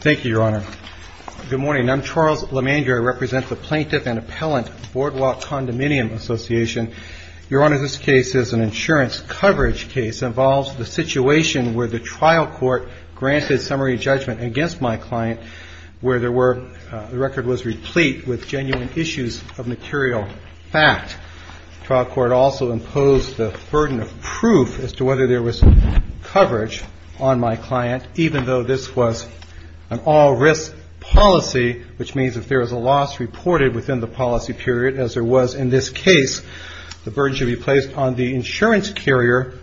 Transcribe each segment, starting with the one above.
Thank you, Your Honor. Good morning. I'm Charles Lemandrier. I represent the Plaintiff and Appellant Boardwalk Condominium Association. Your Honor, this case is an insurance coverage case. It involves the situation where the trial court granted summary judgment against my client where the record was replete with genuine issues of material fact. The trial court also imposed the burden of proof as to whether there was coverage on my client, even though this was an all-risk policy, which means if there is a loss reported within the policy period, as there was in this case, the burden should be placed on the insurance carrier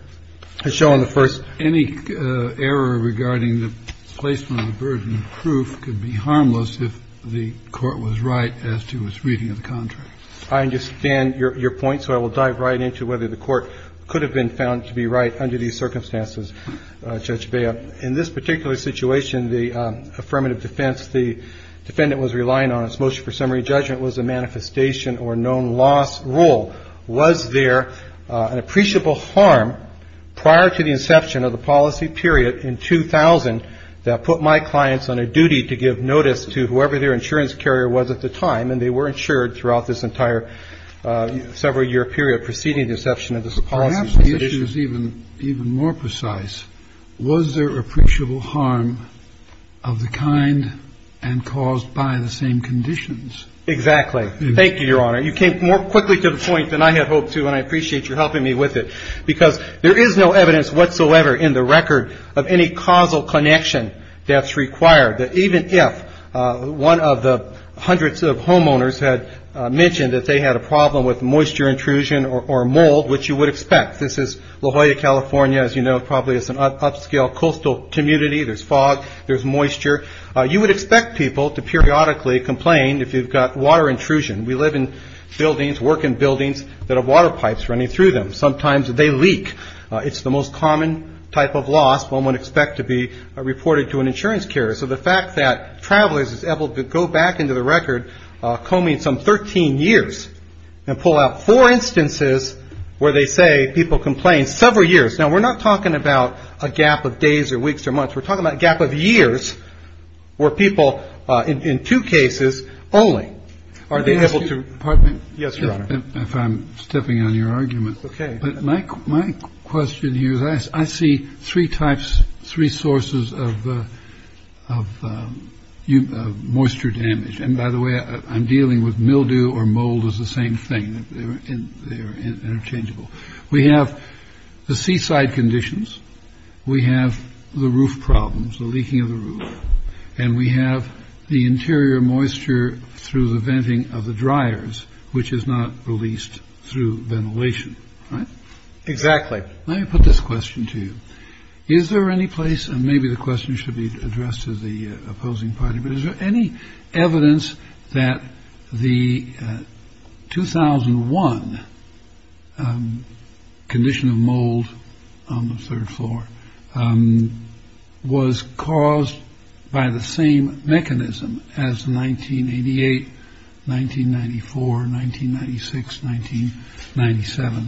as shown in the first. Kennedy Any error regarding the placement of the burden of proof could be harmless if the court was right as to its reading of the contract. I understand your point, so I will dive right into whether the court could have been found to be right under these circumstances, Judge Bea. In this particular situation, the affirmative defense, the defendant was relying on its motion for summary judgment was a manifestation or known loss rule. Was there an appreciable harm prior to the inception of the policy period in 2000 that put my clients on a duty to give notice to whoever their insurance carrier was at the time, and they were insured throughout this entire several-year period preceding the inception of this policy? Kennedy Perhaps the issue is even more precise. Was there appreciable harm of the kind and caused by the same conditions? Carvin Exactly. Thank you, Your Honor. You came more quickly to the point than I had hoped to, and I appreciate your helping me with it, because there is no evidence whatsoever in the record of any causal connection that's required. Even if one of the hundreds of homeowners had mentioned that they had a problem with moisture intrusion or mold, which you would expect. This is La Jolla, California. As you know, probably it's an upscale coastal community. There's fog. There's moisture. You would expect people to periodically complain if you've got water intrusion. We live in buildings, work in buildings that have water pipes running through them. Sometimes they leak. It's the most common type of loss one would expect to be reported to an insurance carrier. So the fact that Travelers is able to go back into the record, come in some 13 years, and pull out four instances where they say people complained several years. Now, we're not talking about a gap of days or weeks or months. We're talking about a gap of years where people, in two cases only, are they able to. Pardon me. Yes, sir. If I'm stepping on your argument. OK. But my my question here is I see three types, three sources of of moisture damage. And by the way, I'm dealing with mildew or mold is the same thing that they're interchangeable. We have the seaside conditions. We have the roof problems, the leaking of the roof. And we have the interior moisture through the venting of the dryers, which is not released through ventilation. Exactly. Let me put this question to you. Is there any place? And maybe the question should be addressed to the opposing party. Is there any evidence that the 2001 condition of mold on the third floor was caused by the same mechanism as 1988, 1994, 1996, 1997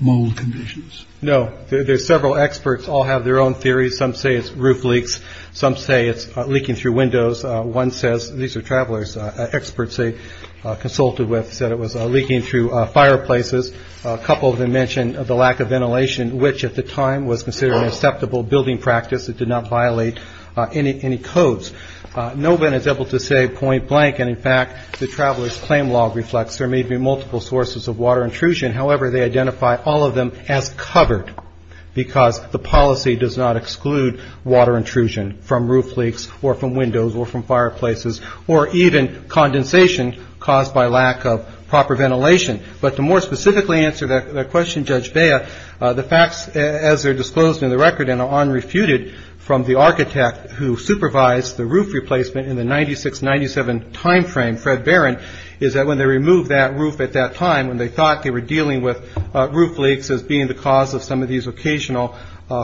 mold conditions? No. There's several experts all have their own theories. Some say it's roof leaks. Some say it's leaking through windows. One says these are travelers. Experts they consulted with said it was leaking through fireplaces. A couple of them mentioned the lack of ventilation, which at the time was considered an acceptable building practice that did not violate any codes. No one is able to say point blank. And in fact, the travelers claim law reflects there may be multiple sources of water intrusion. However, they identify all of them as covered because the policy does not exclude water intrusion from roof leaks or from windows or from fireplaces or even condensation caused by lack of proper ventilation. But to more specifically answer that question, Judge Baya, the facts, as they're disclosed in the record and on refuted from the architect who supervised the roof replacement in the 96, 97 time frame, Fred Barron, is that when they removed that roof at that time, when they thought they were dealing with roof leaks as being the cause of some of these occasional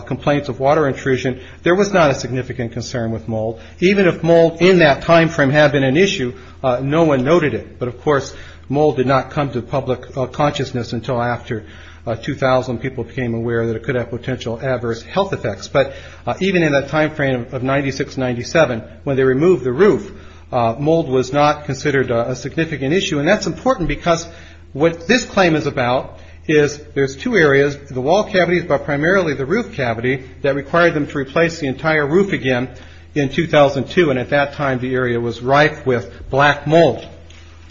complaints of water intrusion, there was not a significant concern with mold, even if mold in that time frame had been an issue. No one noted it. But of course, mold did not come to public consciousness until after 2000. People became aware that it could have potential adverse health effects. But even in that time frame of 96, 97, when they removed the roof, mold was not considered a significant issue. And that's important because what this claim is about is there's two areas, the wall cavities, but primarily the roof cavity that required them to replace the entire roof again in 2002. And at that time, the area was rife with black mold,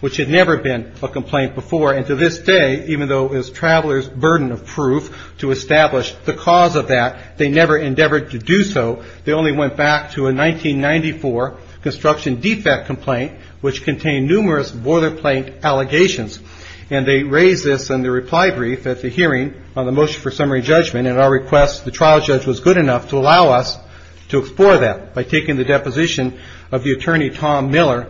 which had never been a complaint before. And to this day, even though it was travelers' burden of proof to establish the cause of that, they never endeavored to do so. They only went back to a 1994 construction defect complaint, which contained numerous boiler plate allegations. And they raised this in the reply brief at the hearing on the motion for summary judgment. And our request, the trial judge was good enough to allow us to explore that by taking the deposition of the attorney, Tom Miller,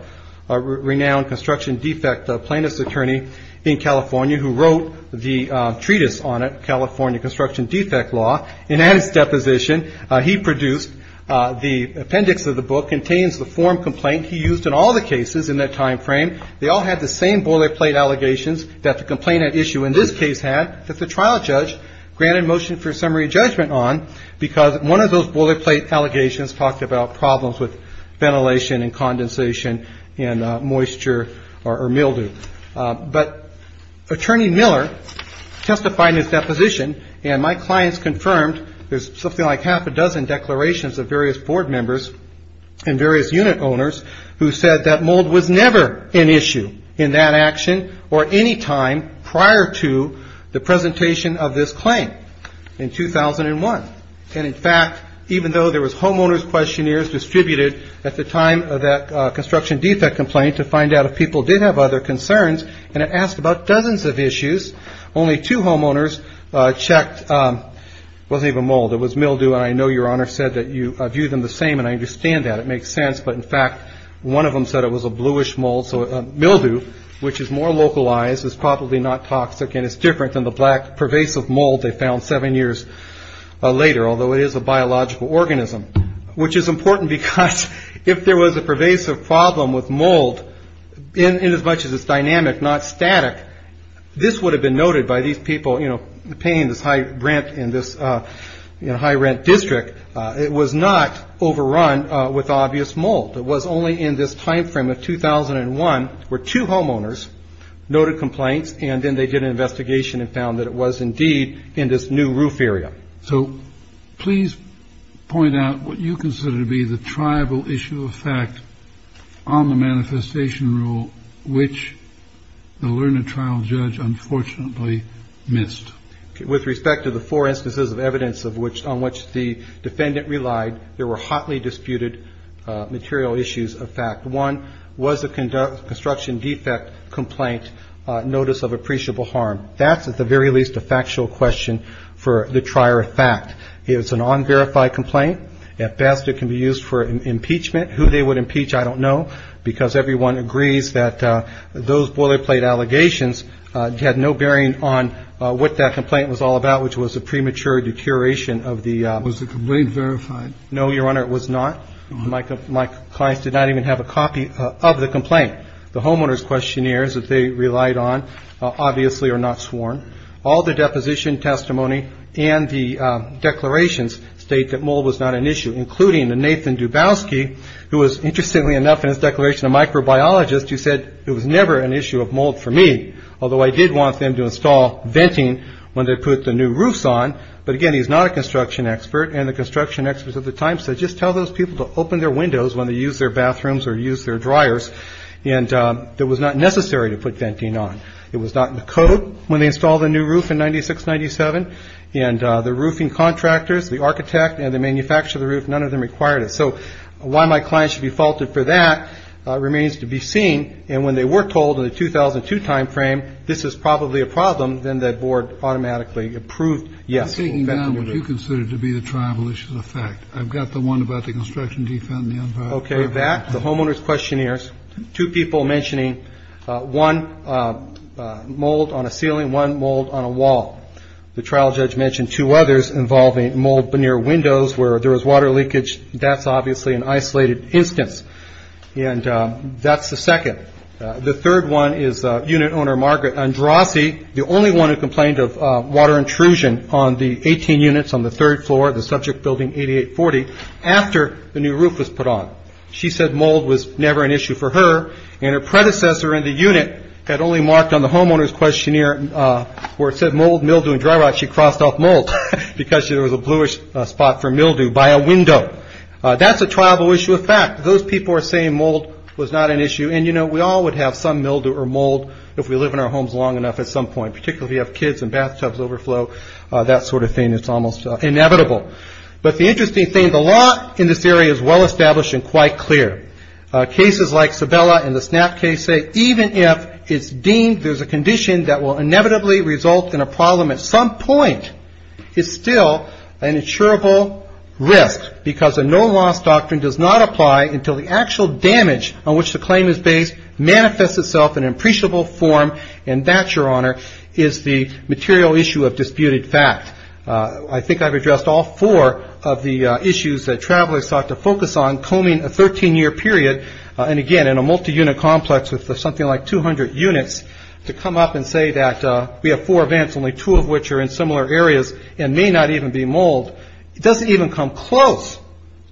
a renowned construction defect plaintiff's attorney in California, who wrote the treatise on it, California Construction Defect Law. And in his deposition, he produced the appendix of the book, contains the form complaint he used in all the cases in that time frame. They all had the same boiler plate allegations that the complainant issue in this case had that the trial judge granted motion for summary judgment on. Because one of those boiler plate allegations talked about problems with ventilation and condensation and moisture or mildew. But Attorney Miller testified in his deposition, and my clients confirmed there's something like half a dozen declarations of various board members and various unit owners who said that mold was never an issue in that action or any time prior to the presentation of this claim. In 2001. And in fact, even though there was homeowners questionnaires distributed at the time of that construction defect complaint to find out if people did have other concerns. And it asked about dozens of issues. Only two homeowners checked. Wasn't even mold. It was mildew. And I know your honor said that you view them the same. And I understand that it makes sense. But in fact, one of them said it was a bluish mold. So mildew, which is more localized, is probably not toxic and it's different than the black pervasive mold they found seven years later. Although it is a biological organism, which is important because if there was a pervasive problem with mold in as much as it's dynamic, not static. This would have been noted by these people, you know, paying this high rent in this high rent district. It was not overrun with obvious mold. It was only in this time frame of 2001 where two homeowners noted complaints and then they did an investigation and found that it was indeed in this new roof area. So please point out what you consider to be the tribal issue of fact on the manifestation rule, which the learned trial judge unfortunately missed. With respect to the four instances of evidence of which on which the defendant relied, there were hotly disputed material issues of fact. One was a construction defect complaint notice of appreciable harm. That's at the very least a factual question for the trier of fact. It's an unverified complaint. At best, it can be used for impeachment. Who they would impeach, I don't know, because everyone agrees that those boilerplate allegations had no bearing on what that complaint was all about, which was a premature deterioration of the. Was the complaint verified? No, Your Honor, it was not. My clients did not even have a copy of the complaint. The homeowners questionnaires that they relied on obviously are not sworn. All the deposition testimony and the declarations state that mold was not an issue, including the Nathan Dubowski, who was interestingly enough in his declaration, a microbiologist. You said it was never an issue of mold for me, although I did want them to install venting when they put the new roofs on. But again, he's not a construction expert. And the construction experts at the time said, just tell those people to open their windows when they use their bathrooms or use their dryers. And that was not necessary to put venting on. It was not in the code when they installed the new roof in 96-97. And the roofing contractors, the architect, and the manufacturer of the roof, none of them required it. So why my client should be faulted for that remains to be seen. And when they were told in the 2002 time frame, this is probably a problem, then the board automatically approved, yes. I'm taking down what you consider to be the triumvalicious effect. I've got the one about the construction defund and the unviolation. Okay, back to the homeowners questionnaires. Two people mentioning one mold on a ceiling, one mold on a wall. The trial judge mentioned two others involving mold near windows where there was water leakage. That's obviously an isolated instance. And that's the second. The third one is unit owner Margaret Androssi, the only one who complained of water intrusion on the 18 units on the third floor, the subject building 8840, after the new roof was put on. She said mold was never an issue for her. And her predecessor in the unit had only marked on the homeowner's questionnaire where it said mold, mildew, and dry rot. She crossed off mold because there was a bluish spot for mildew by a window. That's a triumvalicious effect. Those people are saying mold was not an issue. And, you know, we all would have some mildew or mold if we live in our homes long enough at some point, particularly if you have kids and bathtubs overflow, that sort of thing. It's almost inevitable. But the interesting thing, the law in this area is well established and quite clear. Cases like Sabella and the Snap case say even if it's deemed there's a condition that will inevitably result in a problem at some point, it's still an insurable risk because a no loss doctrine does not apply until the actual damage on which the claim is based manifests itself in an appreciable form. And that, Your Honor, is the material issue of disputed fact. I think I've addressed all four of the issues that travelers sought to focus on combing a 13-year period. And again, in a multi-unit complex with something like 200 units, to come up and say that we have four events, only two of which are in similar areas and may not even be mold, it doesn't even come close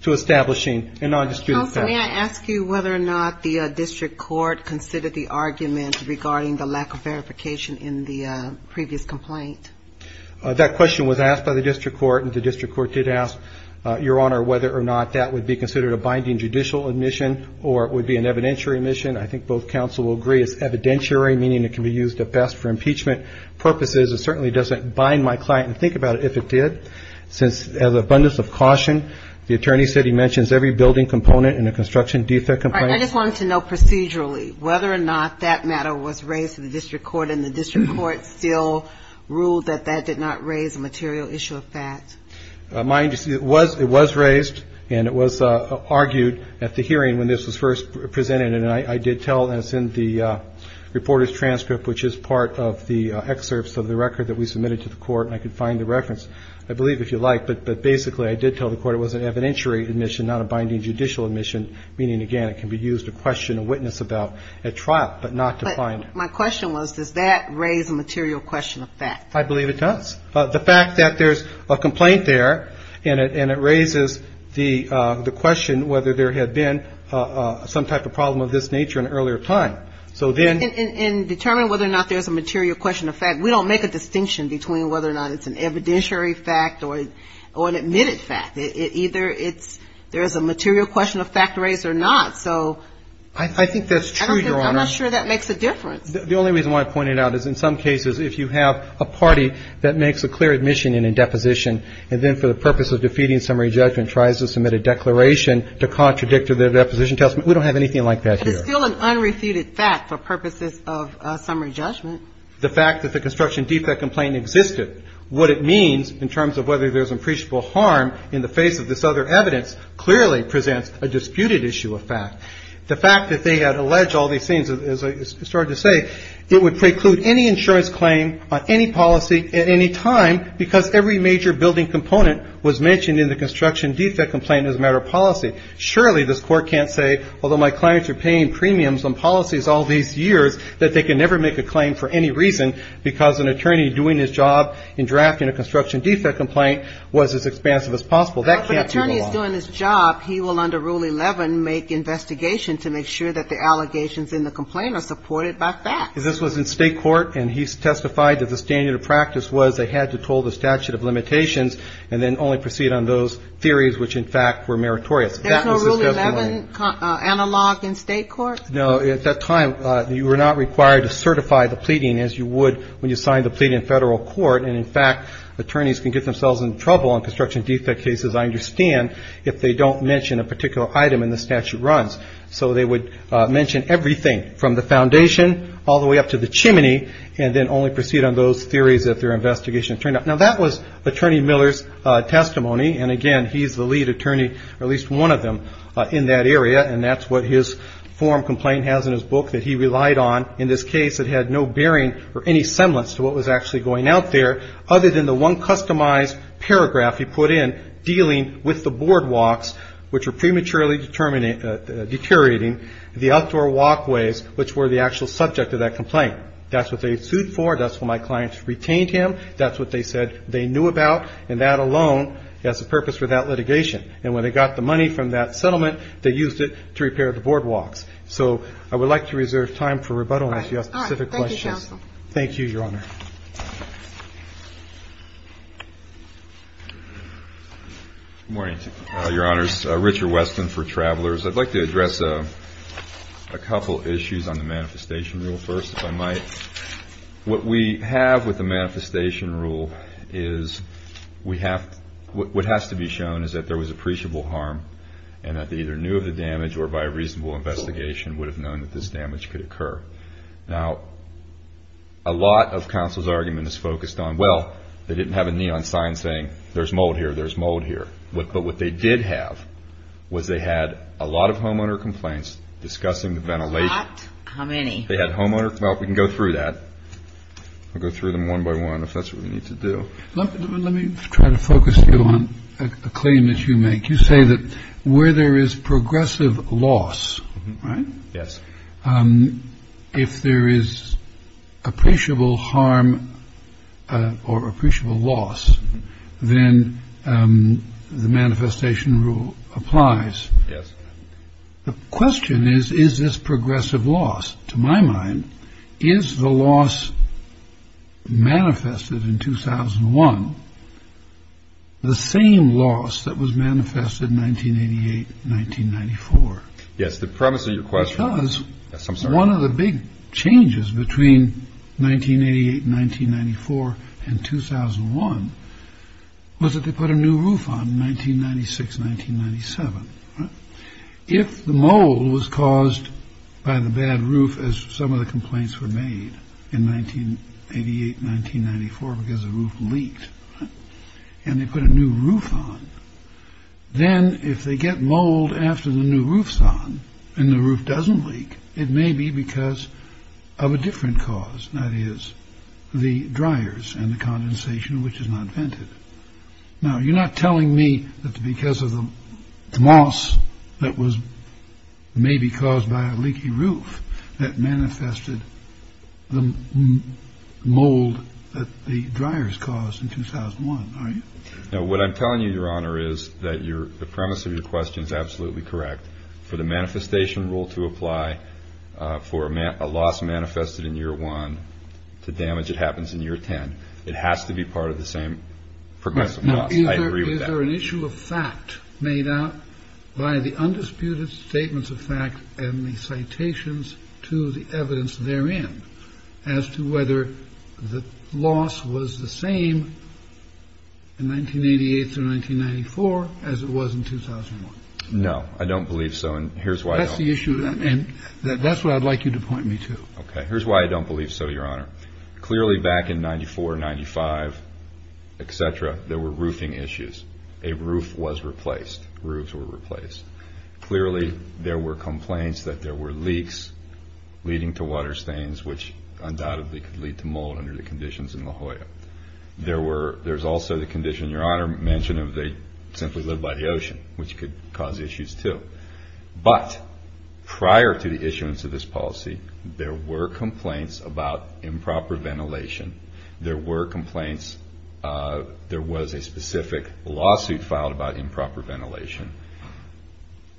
to establishing a non-disputed fact. Counsel, may I ask you whether or not the district court considered the argument regarding the lack of verification in the previous complaint? That question was asked by the district court, and the district court did ask, Your Honor, whether or not that would be considered a binding judicial admission or it would be an evidentiary admission. I think both counsel will agree it's evidentiary, meaning it can be used at best for impeachment purposes. It certainly doesn't bind my client to think about it if it did, since as abundance of caution, the attorney said he mentions every building component in a construction defect complaint. I just wanted to know procedurally whether or not that matter was raised to the district court, and the district court still ruled that that did not raise a material issue of fact. It was raised, and it was argued at the hearing when this was first presented. And I did tell, and it's in the reporter's transcript, which is part of the excerpts of the record that we submitted to the court, and I can find the reference, I believe, if you like. But basically, I did tell the court it was an evidentiary admission, not a binding judicial admission, meaning, again, it can be used to question a witness about a trial, but not to find it. But my question was, does that raise a material question of fact? I believe it does. The fact that there's a complaint there, and it raises the question whether there had been some type of problem of this nature in earlier time. So then — In determining whether or not there's a material question of fact, we don't make a distinction between whether or not it's an evidentiary fact or an admitted fact. Either it's — there's a material question of fact raised or not. So — I think that's true, Your Honor. I'm not sure that makes a difference. The only reason why I point it out is, in some cases, if you have a party that makes a clear admission in a deposition and then, for the purpose of defeating summary judgment, tries to submit a declaration to contradict their deposition testament, we don't have anything like that here. But it's still an unrefuted fact for purposes of summary judgment. The fact that the construction defect complaint existed. What it means, in terms of whether there's unprecedentable harm in the face of this other evidence, clearly presents a disputed issue of fact. The fact that they had alleged all these things, as I started to say, it would preclude any insurance claim on any policy at any time, because every major building component was mentioned in the construction defect complaint as a matter of policy. Surely, this Court can't say, although my clients are paying premiums on policies all these years, that they can never make a claim for any reason, because an attorney doing his job in drafting a construction defect complaint was as expansive as possible. That can't be wrong. Well, if an attorney is doing his job, he will, under Rule 11, make investigation to make sure that the allegations in the complaint are supported by facts. This was in state court, and he testified that the standard of practice was they had to toll the statute of limitations and then only proceed on those theories which, in fact, were meritorious. There's no Rule 11 analog in state court? No, at that time, you were not required to certify the pleading as you would when you signed the plea in federal court. And, in fact, attorneys can get themselves in trouble on construction defect cases, I understand, if they don't mention a particular item in the statute runs. So they would mention everything from the foundation all the way up to the chimney and then only proceed on those theories if their investigation turned out. Now, that was Attorney Miller's testimony. And, again, he's the lead attorney, or at least one of them, in that area. And that's what his form complaint has in his book that he relied on. In this case, it had no bearing or any semblance to what was actually going out there other than the one customized paragraph he put in dealing with the boardwalks, which were prematurely deteriorating, the outdoor walkways, which were the actual subject of that complaint. That's what they sued for. That's what my clients retained him. That's what they said they knew about. And that alone has a purpose for that litigation. And when they got the money from that settlement, they used it to repair the boardwalks. So I would like to reserve time for rebuttal if you have specific questions. Thank you, counsel. Thank you, Your Honor. Good morning, Your Honors. Richard Weston for Travelers. I'd like to address a couple issues on the manifestation rule first, if I might. What we have with the manifestation rule is we have what has to be shown is that there was appreciable harm and that they either knew of the damage or by a reasonable investigation would have known that this damage could occur. Now, a lot of counsel's argument is focused on, well, they didn't have a neon sign saying, there's mold here, there's mold here. But what they did have was they had a lot of homeowner complaints discussing the ventilation. How many? They had homeowner, well, we can go through that. I'll go through them one by one if that's what we need to do. Let me try to focus you on a claim that you make. You say that where there is progressive loss, right? Yes. If there is appreciable harm or appreciable loss, then the manifestation rule applies. Yes. The question is, is this progressive loss? To my mind, is the loss manifested in 2001 the same loss that was manifested in 1988, 1994? Yes, the premise of your question is, yes, I'm sorry. One of the big changes between 1988, 1994 and 2001 was that they put a new roof on 1996, 1997. If the mold was caused by the bad roof, as some of the complaints were made in 1988, 1994, because the roof leaked and they put a new roof on, then if they get mold after the new roof's on and the roof doesn't leak, it may be because of a different cause, that is the dryers and the condensation, which is not vented. Now, you're not telling me that's because of the moss that was maybe caused by a leaky roof that manifested the mold that the dryers caused in 2001, are you? No, what I'm telling you, Your Honor, is that the premise of your question is absolutely correct. For the manifestation rule to apply, for a loss manifested in year one to damage, it happens in year 10. It has to be part of the same progressive loss. I agree with that. Is there an issue of fact made out by the undisputed statements of fact and the citations to the evidence therein as to whether the loss was the same in 1988 through 1994 as it was in 2001? No, I don't believe so, and here's why. That's the issue, and that's what I'd like you to point me to. Okay, here's why I don't believe so, Your Honor. Clearly, back in 94, 95, et cetera, there were roofing issues. A roof was replaced. Roofs were replaced. Clearly, there were complaints that there were leaks leading to water stains, which undoubtedly could lead to mold under the conditions in La Jolla. There's also the condition, Your Honor mentioned, of they simply lived by the ocean, which could cause issues, too, but prior to the issuance of this policy, there were complaints about improper ventilation. There were complaints. There was a specific lawsuit filed about improper ventilation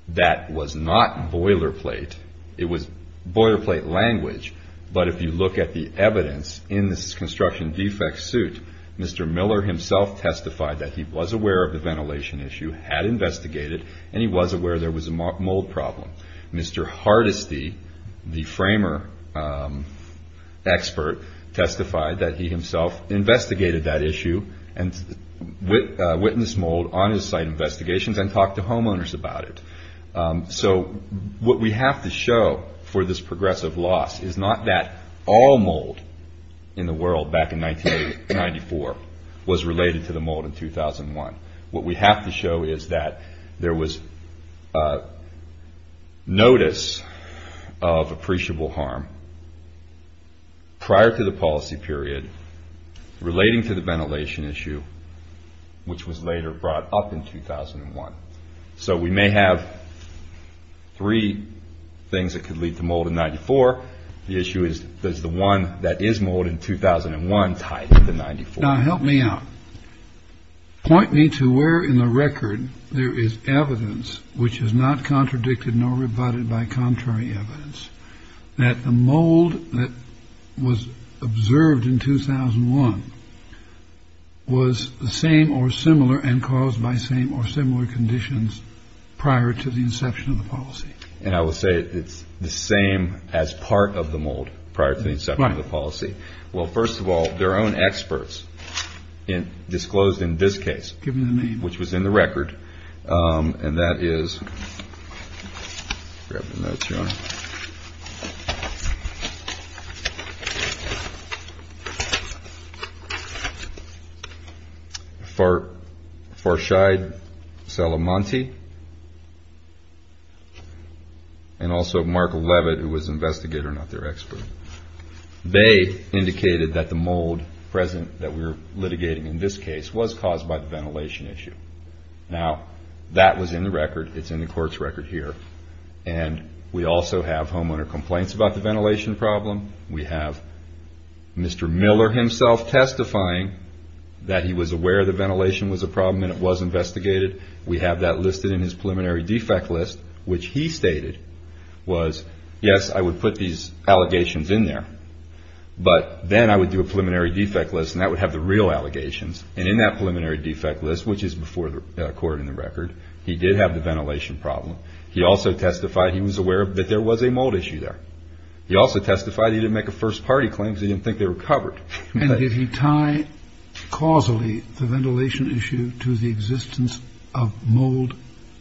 that was not boilerplate. It was boilerplate language, but if you look at the evidence in this construction defect suit, Mr. Miller himself testified that he was aware of the ventilation issue, had investigated, and he was aware there was a mold problem. Mr. Hardesty, the framer expert, testified that he himself investigated that issue and witnessed mold on his site investigations and talked to homeowners about it. So what we have to show for this progressive loss is not that all mold in the world back in 1994 was related to the mold in 2001. What we have to show is that there was notice of appreciable harm prior to the policy period relating to the ventilation issue, which was later brought up in 2001. So we may have three things that could lead to mold in 94. The issue is, does the one that is mold in 2001 tie to the 94? Now, help me out. Point me to where in the record there is evidence which is not contradicted nor rebutted by contrary evidence that the mold that was observed in 2001 was the same or similar and caused by same or similar conditions prior to the inception of the policy. And I will say it's the same as part of the mold prior to the inception of the policy. Well, first of all, their own experts disclosed in this case, which was in the record, and that is Farshide Salamante and also Mark Leavitt, who was an investigator, not their expert. They indicated that the mold present that we were litigating in this case was caused by the ventilation issue. Now, that was in the record. It's in the court's record here. And we also have homeowner complaints about the ventilation problem. We have Mr. Miller himself testifying that he was aware the ventilation was a problem and it was investigated. We have that listed in his preliminary defect list, which he stated was, yes, I would put these allegations in there, but then I would do a preliminary defect list and that would have the real allegations. And in that preliminary defect list, which is before the court in the record, he did have the ventilation problem. He also testified he was aware that there was a mold issue there. He also testified he didn't make a first party claim because he didn't think they were covered. And did he tie causally the ventilation issue to the existence of mold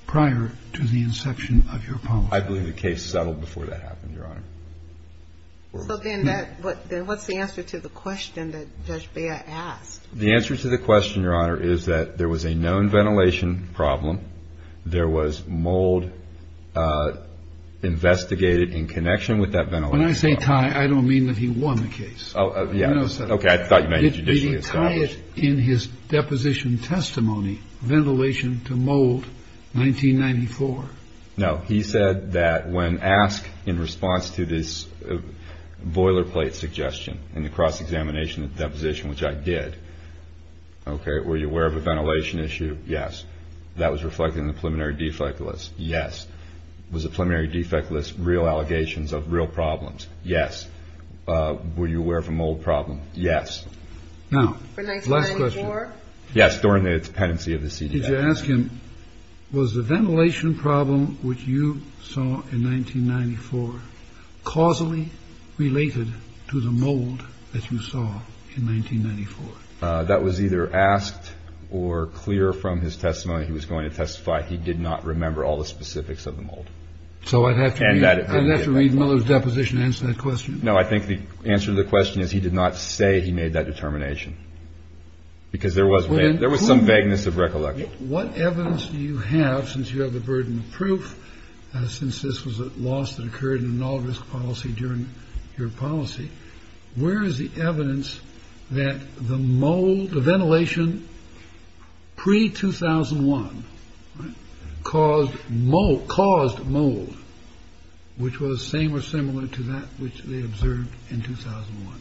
prior to the inception of your policy? I believe the case settled before that happened, Your Honor. So then what's the answer to the question that Judge Bea asked? The answer to the question, Your Honor, is that there was a known ventilation problem. There was mold investigated in connection with that ventilation problem. When I say tie, I don't mean that he won the case. Oh, yeah. Okay, I thought you meant it was judicially established. Did he tie it in his deposition testimony, ventilation to mold, 1994? No. He said that when asked in response to this boilerplate suggestion in the cross-examination and deposition, which I did, okay, were you aware of a ventilation issue? Yes. That was reflected in the preliminary defect list. Yes. Was the preliminary defect list real allegations of real problems? Yes. Were you aware of a mold problem? Yes. Now, last question. For 1994? Yes. During the dependency of the CDF. Did you ask him, was the ventilation problem which you saw in 1994 causally related to the mold that you saw in 1994? That was either asked or clear from his testimony. He was going to testify he did not remember all the specifics of the mold. So I'd have to read Miller's deposition to answer that question? No, I think the answer to the question is he did not say he made that determination because there was some vagueness of recollection. What evidence do you have, since you have the burden of proof, since this was a loss that occurred in an all-risk policy during your policy, where is the evidence that the mold, the ventilation pre-2001 caused mold, which was the same or similar to that which they observed in 2001?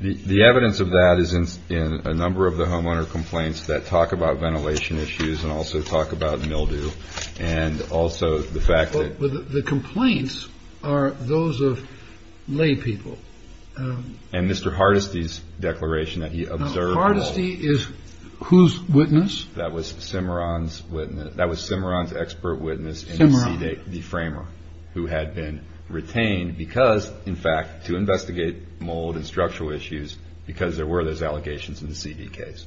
The evidence of that is in a number of the homeowner complaints that talk about ventilation issues and also talk about mildew and also the fact that... The complaints are those of laypeople. And Mr. Hardesty's declaration that he observed mold. Now, Hardesty is whose witness? That was Cimarron's witness. That was Cimarron's expert witness in the CDF, who had been retained because, in fact, to investigate mold and structural issues, because there were those allegations in the CD case.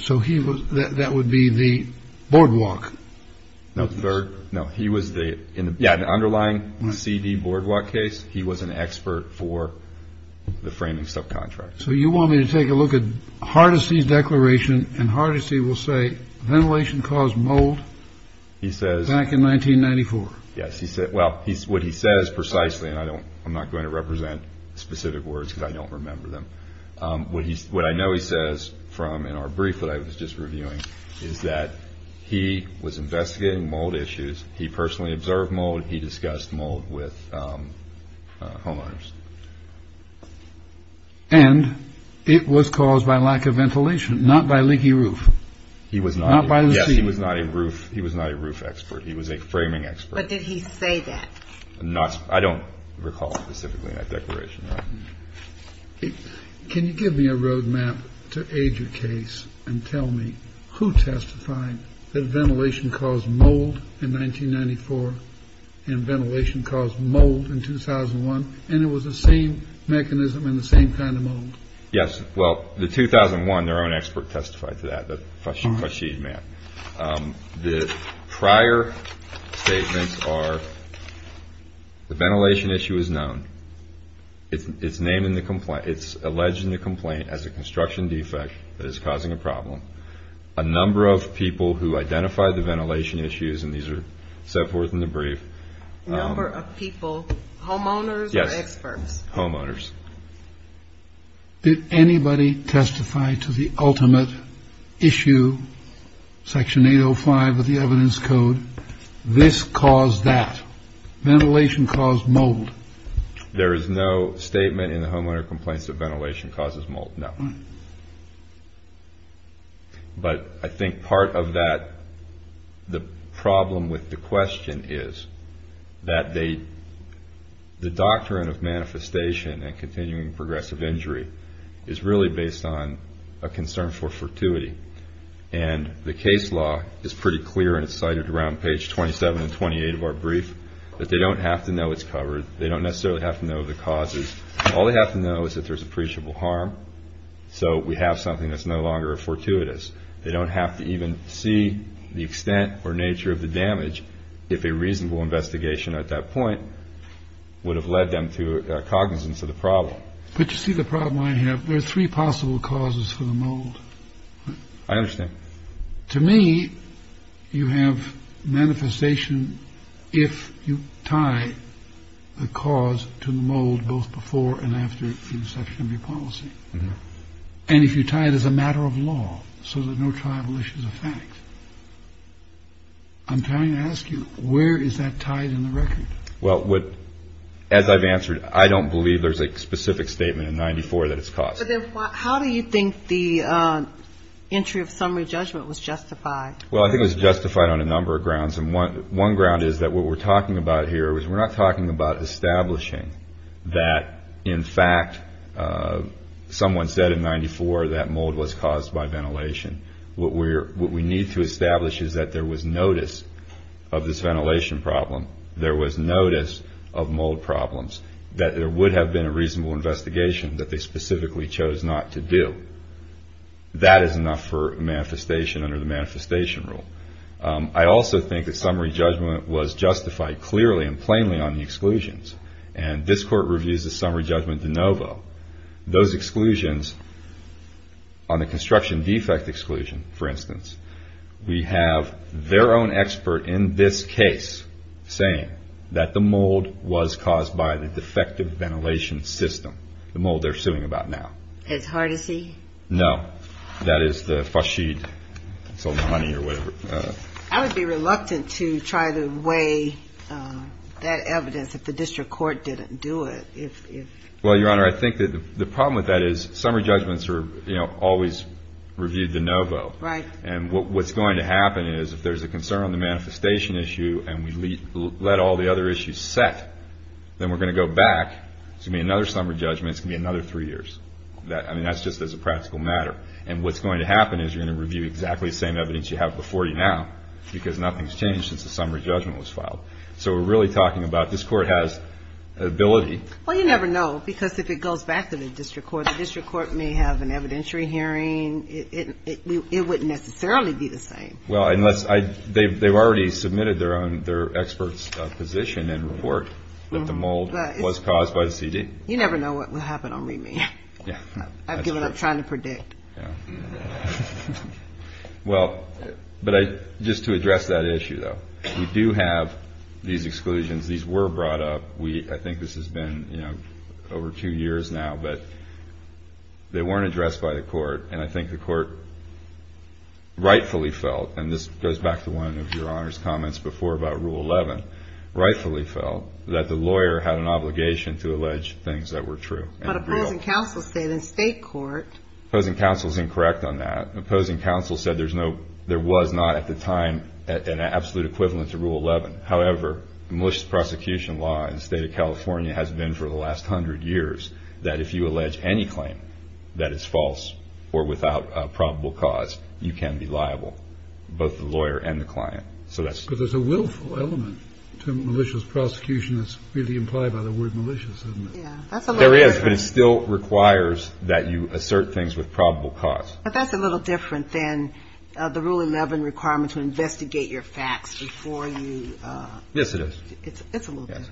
So he was... That would be the boardwalk. No, he was the underlying CD boardwalk case. He was an expert for the framing subcontract. So you want me to take a look at Hardesty's declaration and Hardesty will say ventilation caused mold? He says... Back in 1994. Yes, he said... Well, what he says precisely, and I'm not going to represent specific words because I don't remember them. What I know he says from in our brief that I was just reviewing is that he was investigating mold issues. He personally observed mold. He discussed mold with homeowners. And it was caused by lack of ventilation, not by leaky roof, not by the ceiling. Yes, he was not a roof expert. He was a framing expert. But did he say that? I don't recall specifically that declaration. Can you give me a road map to age your case and tell me who testified that ventilation caused mold in 1994 and ventilation caused mold in 2001? And it was the same mechanism and the same kind of mold? Yes. Well, the 2001, their own expert testified to that, the Fashid man. The prior statements are the ventilation issue is known. It's named in the complaint. It's alleged in the complaint as a construction defect that is causing a problem. A number of people who identify the ventilation issues, and these are set forth in the brief. Number of people, homeowners or experts? Homeowners. Did anybody testify to the ultimate issue? Section 805 of the evidence code. This caused that ventilation caused mold. There is no statement in the homeowner complaints of ventilation causes mold. No. But I think part of that, the problem with the question is that they, the doctrine of manifestation and continuing progressive injury is really based on a concern for fortuity. And the case law is pretty clear and it's cited around page 27 and 28 of our brief that they don't have to know it's covered. They don't necessarily have to know the causes. All they have to know is that there's appreciable harm. So we have something that's no longer a fortuitous. They don't have to even see the extent or nature of the damage. If a reasonable investigation at that point would have led them to cognizance of the problem. But you see, the problem I have, there are three possible causes for the mold. I understand. To me, you have manifestation. If you tie the cause to mold both before and after the inception of your policy, and if you tie it as a matter of law, so that no tribal issues of facts. I'm trying to ask you, where is that tied in the record? Well, as I've answered, I don't believe there's a specific statement in 94 that it's caused. How do you think the entry of summary judgment was justified? Well, I think it was justified on a number of grounds. And one ground is that what we're talking about here is we're not talking about establishing that, in fact, someone said in 94 that mold was caused by ventilation. What we need to establish is that there was notice of this ventilation problem. There was notice of mold problems that there would have been a reasonable investigation that they specifically chose not to do. That is enough for manifestation under the manifestation rule. I also think that summary judgment was justified clearly and plainly on the exclusions. And this court reviews the summary judgment de novo. Those exclusions, on the construction defect exclusion, for instance, we have their own expert in this case saying that the mold was caused by the defective ventilation system. The mold they're suing about now. It's hard to see? No. That is the FAUCHIDE. Sold the money or whatever. I would be reluctant to try to weigh that evidence if the district court didn't do it. Well, Your Honor, I think that the problem with that is summary judgments are, you know, always reviewed de novo. Right. And what's going to happen is if there's a concern on the manifestation issue and we let all the other issues set, then we're going to go back. It's going to be another summary judgment. It's going to be another three years. I mean, that's just as a practical matter. And what's going to happen is you're going to review exactly the same evidence you have before you now, because nothing's changed since the summary judgment was filed. So we're really talking about this court has ability. Well, you never know, because if it goes back to the district court, the district court may have an evidentiary hearing. It wouldn't necessarily be the same. Well, unless they've already submitted their own, their expert's position and report that the mold was caused by the CD. You never know what will happen on remand. I've given up trying to predict. Yeah, well, but I just to address that issue, though, we do have these exclusions. These were brought up. We, I think this has been, you know, over two years now, but they weren't addressed by the court. And I think the court rightfully felt, and this goes back to one of your honors comments before about rule 11, rightfully felt that the lawyer had an obligation to allege things that were true. But opposing counsel said in state court, opposing counsel is incorrect on that. Opposing counsel said there's no, there was not at the time an absolute equivalent to rule 11. However, malicious prosecution law in the state of California has been for the last hundred years, that if you allege any claim that is false or without a probable cause, you can be liable, both the lawyer and the client. So that's because there's a willful element to malicious prosecution. That's really implied by the word malicious, isn't it? There is, but it still requires that you assert things with probable cause. But that's a little different than the rule 11 requirement to investigate your facts before you. Yes, it is. It's a little bit.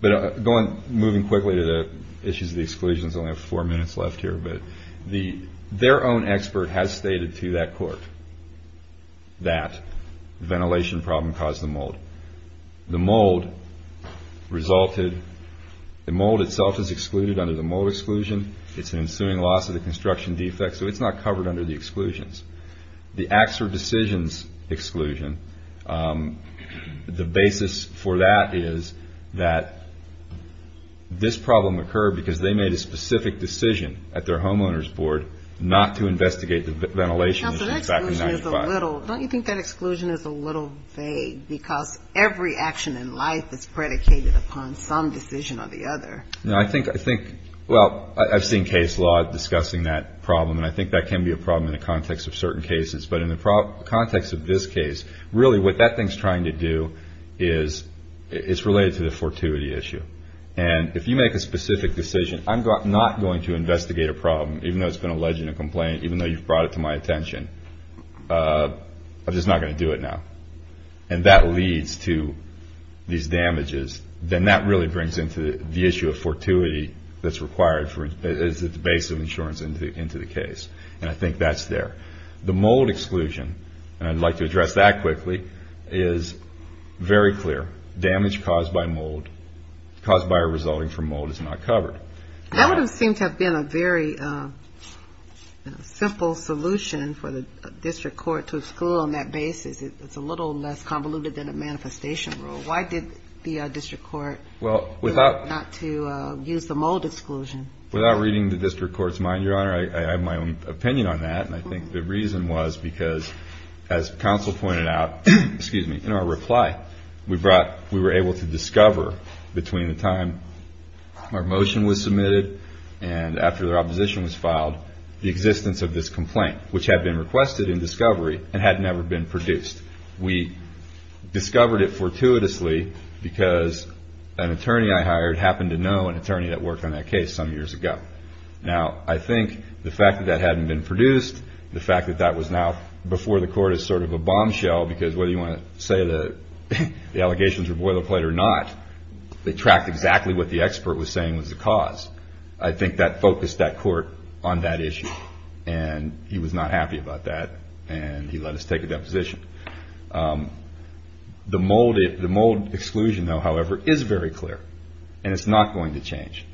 But going, moving quickly to the issues of the exclusions, I only have four minutes left here, but the, their own expert has stated to that court that ventilation problem caused the mold. The mold resulted, the mold itself is excluded under the mold exclusion. It's an ensuing loss of the construction defects. So it's not covered under the exclusions, the acts or decisions exclusion. The basis for that is that this problem occurred because they made a specific decision at their homeowner's board not to investigate the ventilation. So that exclusion is a little, don't you think that exclusion is a little vague because every action in life is predicated upon some decision or the other? No, I think, I think, well, I've seen case law discussing that problem and I think that can be a problem in the context of certain cases. But in the context of this case, really what that thing's trying to do is it's related to the fortuity issue. And if you make a specific decision, I'm not going to investigate a problem, even though it's been alleged in a complaint, even though you've brought it to my attention, I'm just not going to do it now. And that leads to these damages, then that really brings into the issue of fortuity that's required as the base of insurance into the case. And I think that's there. The mold exclusion, and I'd like to address that quickly, is very clear. Damage caused by mold, caused by or resulting from mold is not covered. That would have seemed to have been a very simple solution for the district court to exclude on that basis. It's a little less convoluted than a manifestation rule. Why did the district court not to use the mold exclusion? Without reading the district court's mind, Your Honor, I have my own opinion on that. And I think the reason was because, as counsel pointed out, excuse me, in our reply, we were able to discover between the time our motion was submitted and after the opposition was filed, the existence of this complaint, which had been requested in discovery and had never been produced. We discovered it fortuitously because an attorney I hired happened to know an attorney that worked on that case some years ago. Now, I think the fact that that hadn't been produced, the fact that that was now before the court as sort of a bombshell, because whether you want to say the allegations were boilerplate or not, they tracked exactly what the expert was saying was the cause. I think that focused that court on that issue, and he was not happy about that, and he let us take a deposition. The mold exclusion, though, however, is very clear, and it's not going to change.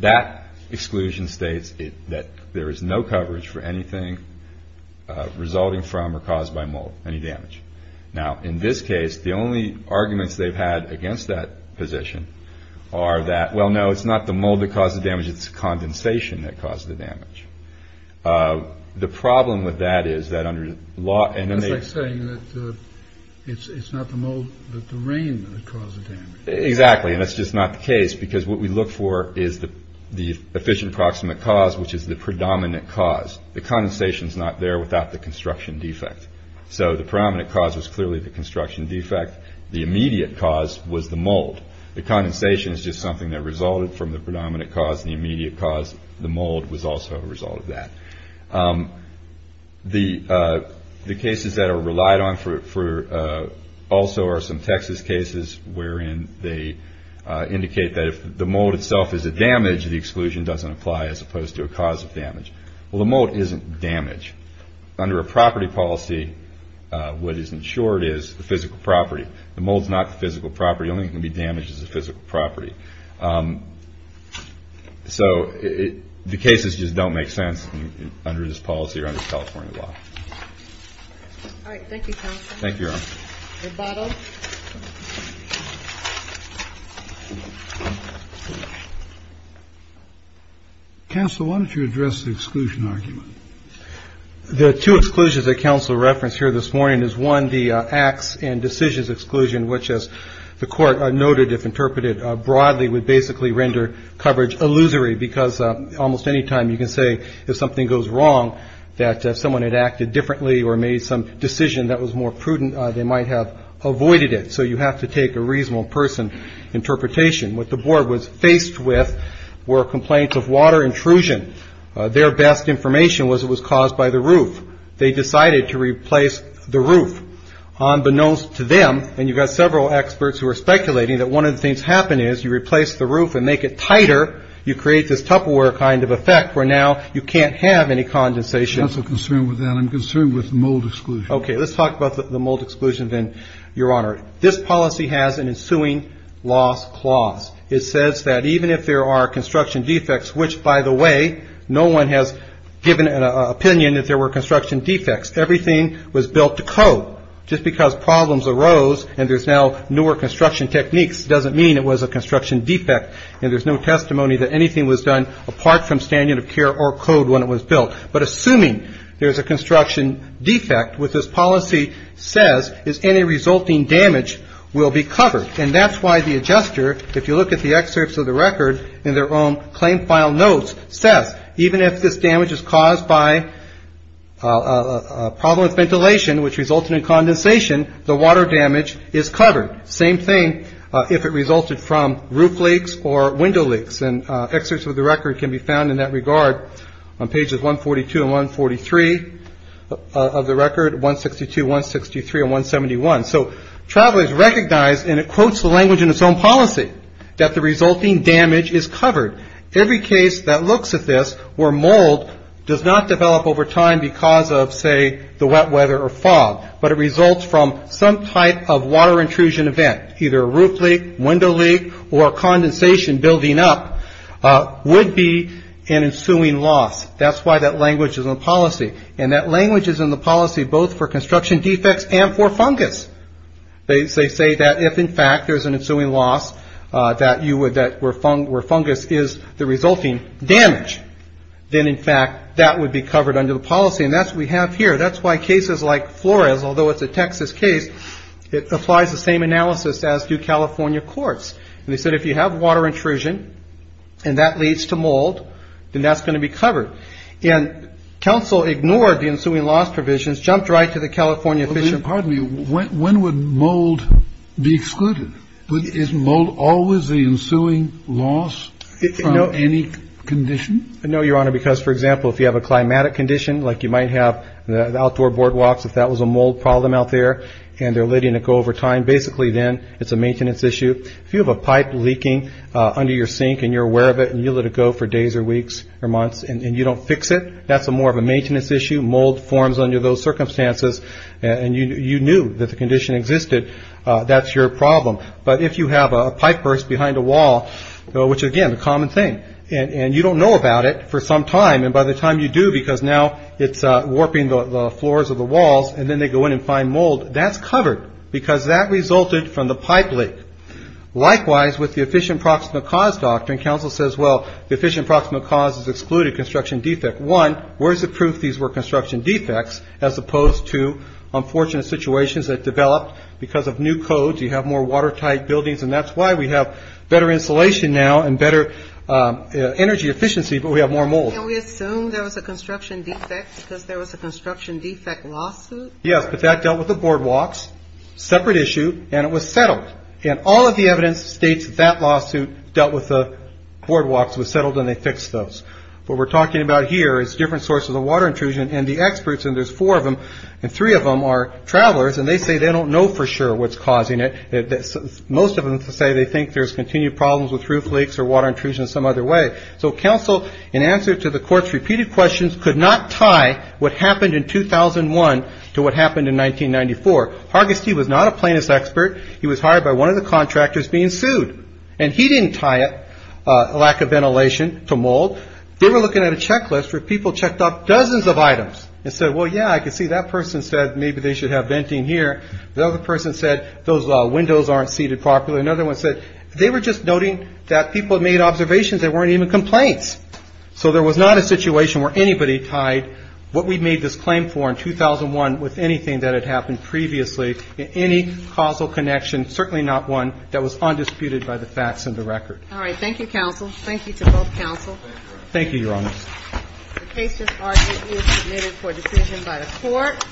That exclusion states that there is no coverage for anything resulting from or caused by mold, any damage. Now, in this case, the only arguments they've had against that position are that, well, no, it's not the mold that caused the damage. It's condensation that caused the damage. The problem with that is that under law. And it's like saying that it's not the mold, but the rain that caused the damage. Exactly, and that's just not the case, because what we look for is the efficient proximate cause, which is the predominant cause. The condensation's not there without the construction defect. So the predominant cause was clearly the construction defect. The immediate cause was the mold. The condensation is just something that resulted from the predominant cause. The immediate cause, the mold, was also a result of that. The cases that are relied on also are some Texas cases wherein they indicate that if the mold itself is a damage, the exclusion doesn't apply as opposed to a cause of damage. Well, the mold isn't damage. Under a property policy, what is insured is the physical property. The mold's not the physical property. The only thing that can be damaged is the physical property. So the cases just don't make sense. Under this policy or under California law. All right. Thank you. Thank you. Counsel, why don't you address the exclusion argument? The two exclusions that counsel referenced here this morning is one, the acts and decisions exclusion, which, as the court noted, if interpreted broadly, would basically render coverage illusory because almost any time you can say if something goes wrong that someone had acted differently or made some decision that was more prudent, they might have avoided it. So you have to take a reasonable person interpretation. What the board was faced with were complaints of water intrusion. Their best information was it was caused by the roof. They decided to replace the roof unbeknownst to them. And you've got several experts who are speculating that one of the things happening is you replace the roof and make it tighter. You create this Tupperware kind of effect where now you can't have any condensation. That's a concern with that. I'm concerned with mold exclusion. OK, let's talk about the mold exclusion then, Your Honor. This policy has an ensuing loss clause. It says that even if there are construction defects, which, by the way, no one has given an opinion that there were construction defects. Everything was built to code just because problems arose and there's now newer construction techniques doesn't mean it was a construction defect and there's no testimony that anything was done apart from standing of care or code when it was built. But assuming there is a construction defect with this policy says is any resulting damage will be covered. And that's why the adjuster, if you look at the excerpts of the record in their own claim file notes, says even if this damage is caused by a problem with ventilation, which resulted in condensation, the water damage is covered. Same thing if it resulted from roof leaks or window leaks. And excerpts of the record can be found in that regard on pages 142 and 143 of the record, 162, 163 and 171. So travelers recognize, and it quotes the language in its own policy, that the resulting damage is covered. Every case that looks at this where mold does not develop over time because of, say, the wet weather or fog, but it results from some type of water intrusion event, either a roof leak, window leak, or condensation building up, would be an ensuing loss. That's why that language is in the policy. And that language is in the policy both for construction defects and for fungus. They say that if, in fact, there's an ensuing loss where fungus is the resulting damage, then, in fact, that would be covered under the policy. And that's what we have here. That's why cases like Flores, although it's a Texas case, it applies the same analysis as do California courts. And they said, if you have water intrusion and that leads to mold, then that's going to be covered. And counsel ignored the ensuing loss provisions, jumped right to the California Fish and Pardon Me, when would mold be excluded? Is mold always the ensuing loss from any condition? No, Your Honor, because, for example, if you have a climatic condition, like you might have the outdoor boardwalks, if that was a mold problem out there and they're letting it go over time, basically, then it's a maintenance issue. If you have a pipe leaking under your sink and you're aware of it and you let it go for days or weeks or months and you don't fix it, that's more of a maintenance issue. Mold forms under those circumstances and you knew that the condition existed. That's your problem. But if you have a pipe burst behind a wall, which, again, the common thing, and you don't know about it for some time, and by the time you do, because now it's warping the floors of the walls and then they go in and find mold, that's covered because that resulted from the pipe leak. Likewise, with the efficient proximate cause doctrine, counsel says, well, the efficient proximate cause is excluded construction defect. One, where's the proof these were construction defects, as opposed to unfortunate situations that developed because of new codes. You have more watertight buildings, and that's why we have better insulation now and better energy efficiency, but we have more mold. Can we assume there was a construction defect because there was a construction defect lawsuit? Yes, but that dealt with the boardwalks, separate issue, and it was settled. And all of the evidence states that lawsuit dealt with the boardwalks, was settled, and they fixed those. What we're talking about here is different sources of water intrusion, and the experts, and there's four of them, and three of them are travelers, and they say they don't know for sure what's causing it. Most of them say they think there's continued problems with roof leaks or water intrusion some other way. So counsel, in answer to the court's repeated questions, could not tie what happened in 2001 to what happened in 1994. Hargiste was not a plaintiff's expert. He was hired by one of the contractors being sued, and he didn't tie a lack of ventilation to mold. They were looking at a checklist where people checked off dozens of items and said, well, yeah, I can see that person said maybe they should have venting here. The other person said those windows aren't seated properly. Another one said they were just noting that people made observations. There weren't even complaints. So there was not a situation where anybody tied what we made this claim for in 2001 with anything that had happened previously in any causal connection, certainly not one that was undisputed by the facts and the record. All right. Thank you, counsel. Thank you to both counsel. Thank you. Your Honor. The case just argued is submitted for decision by the court.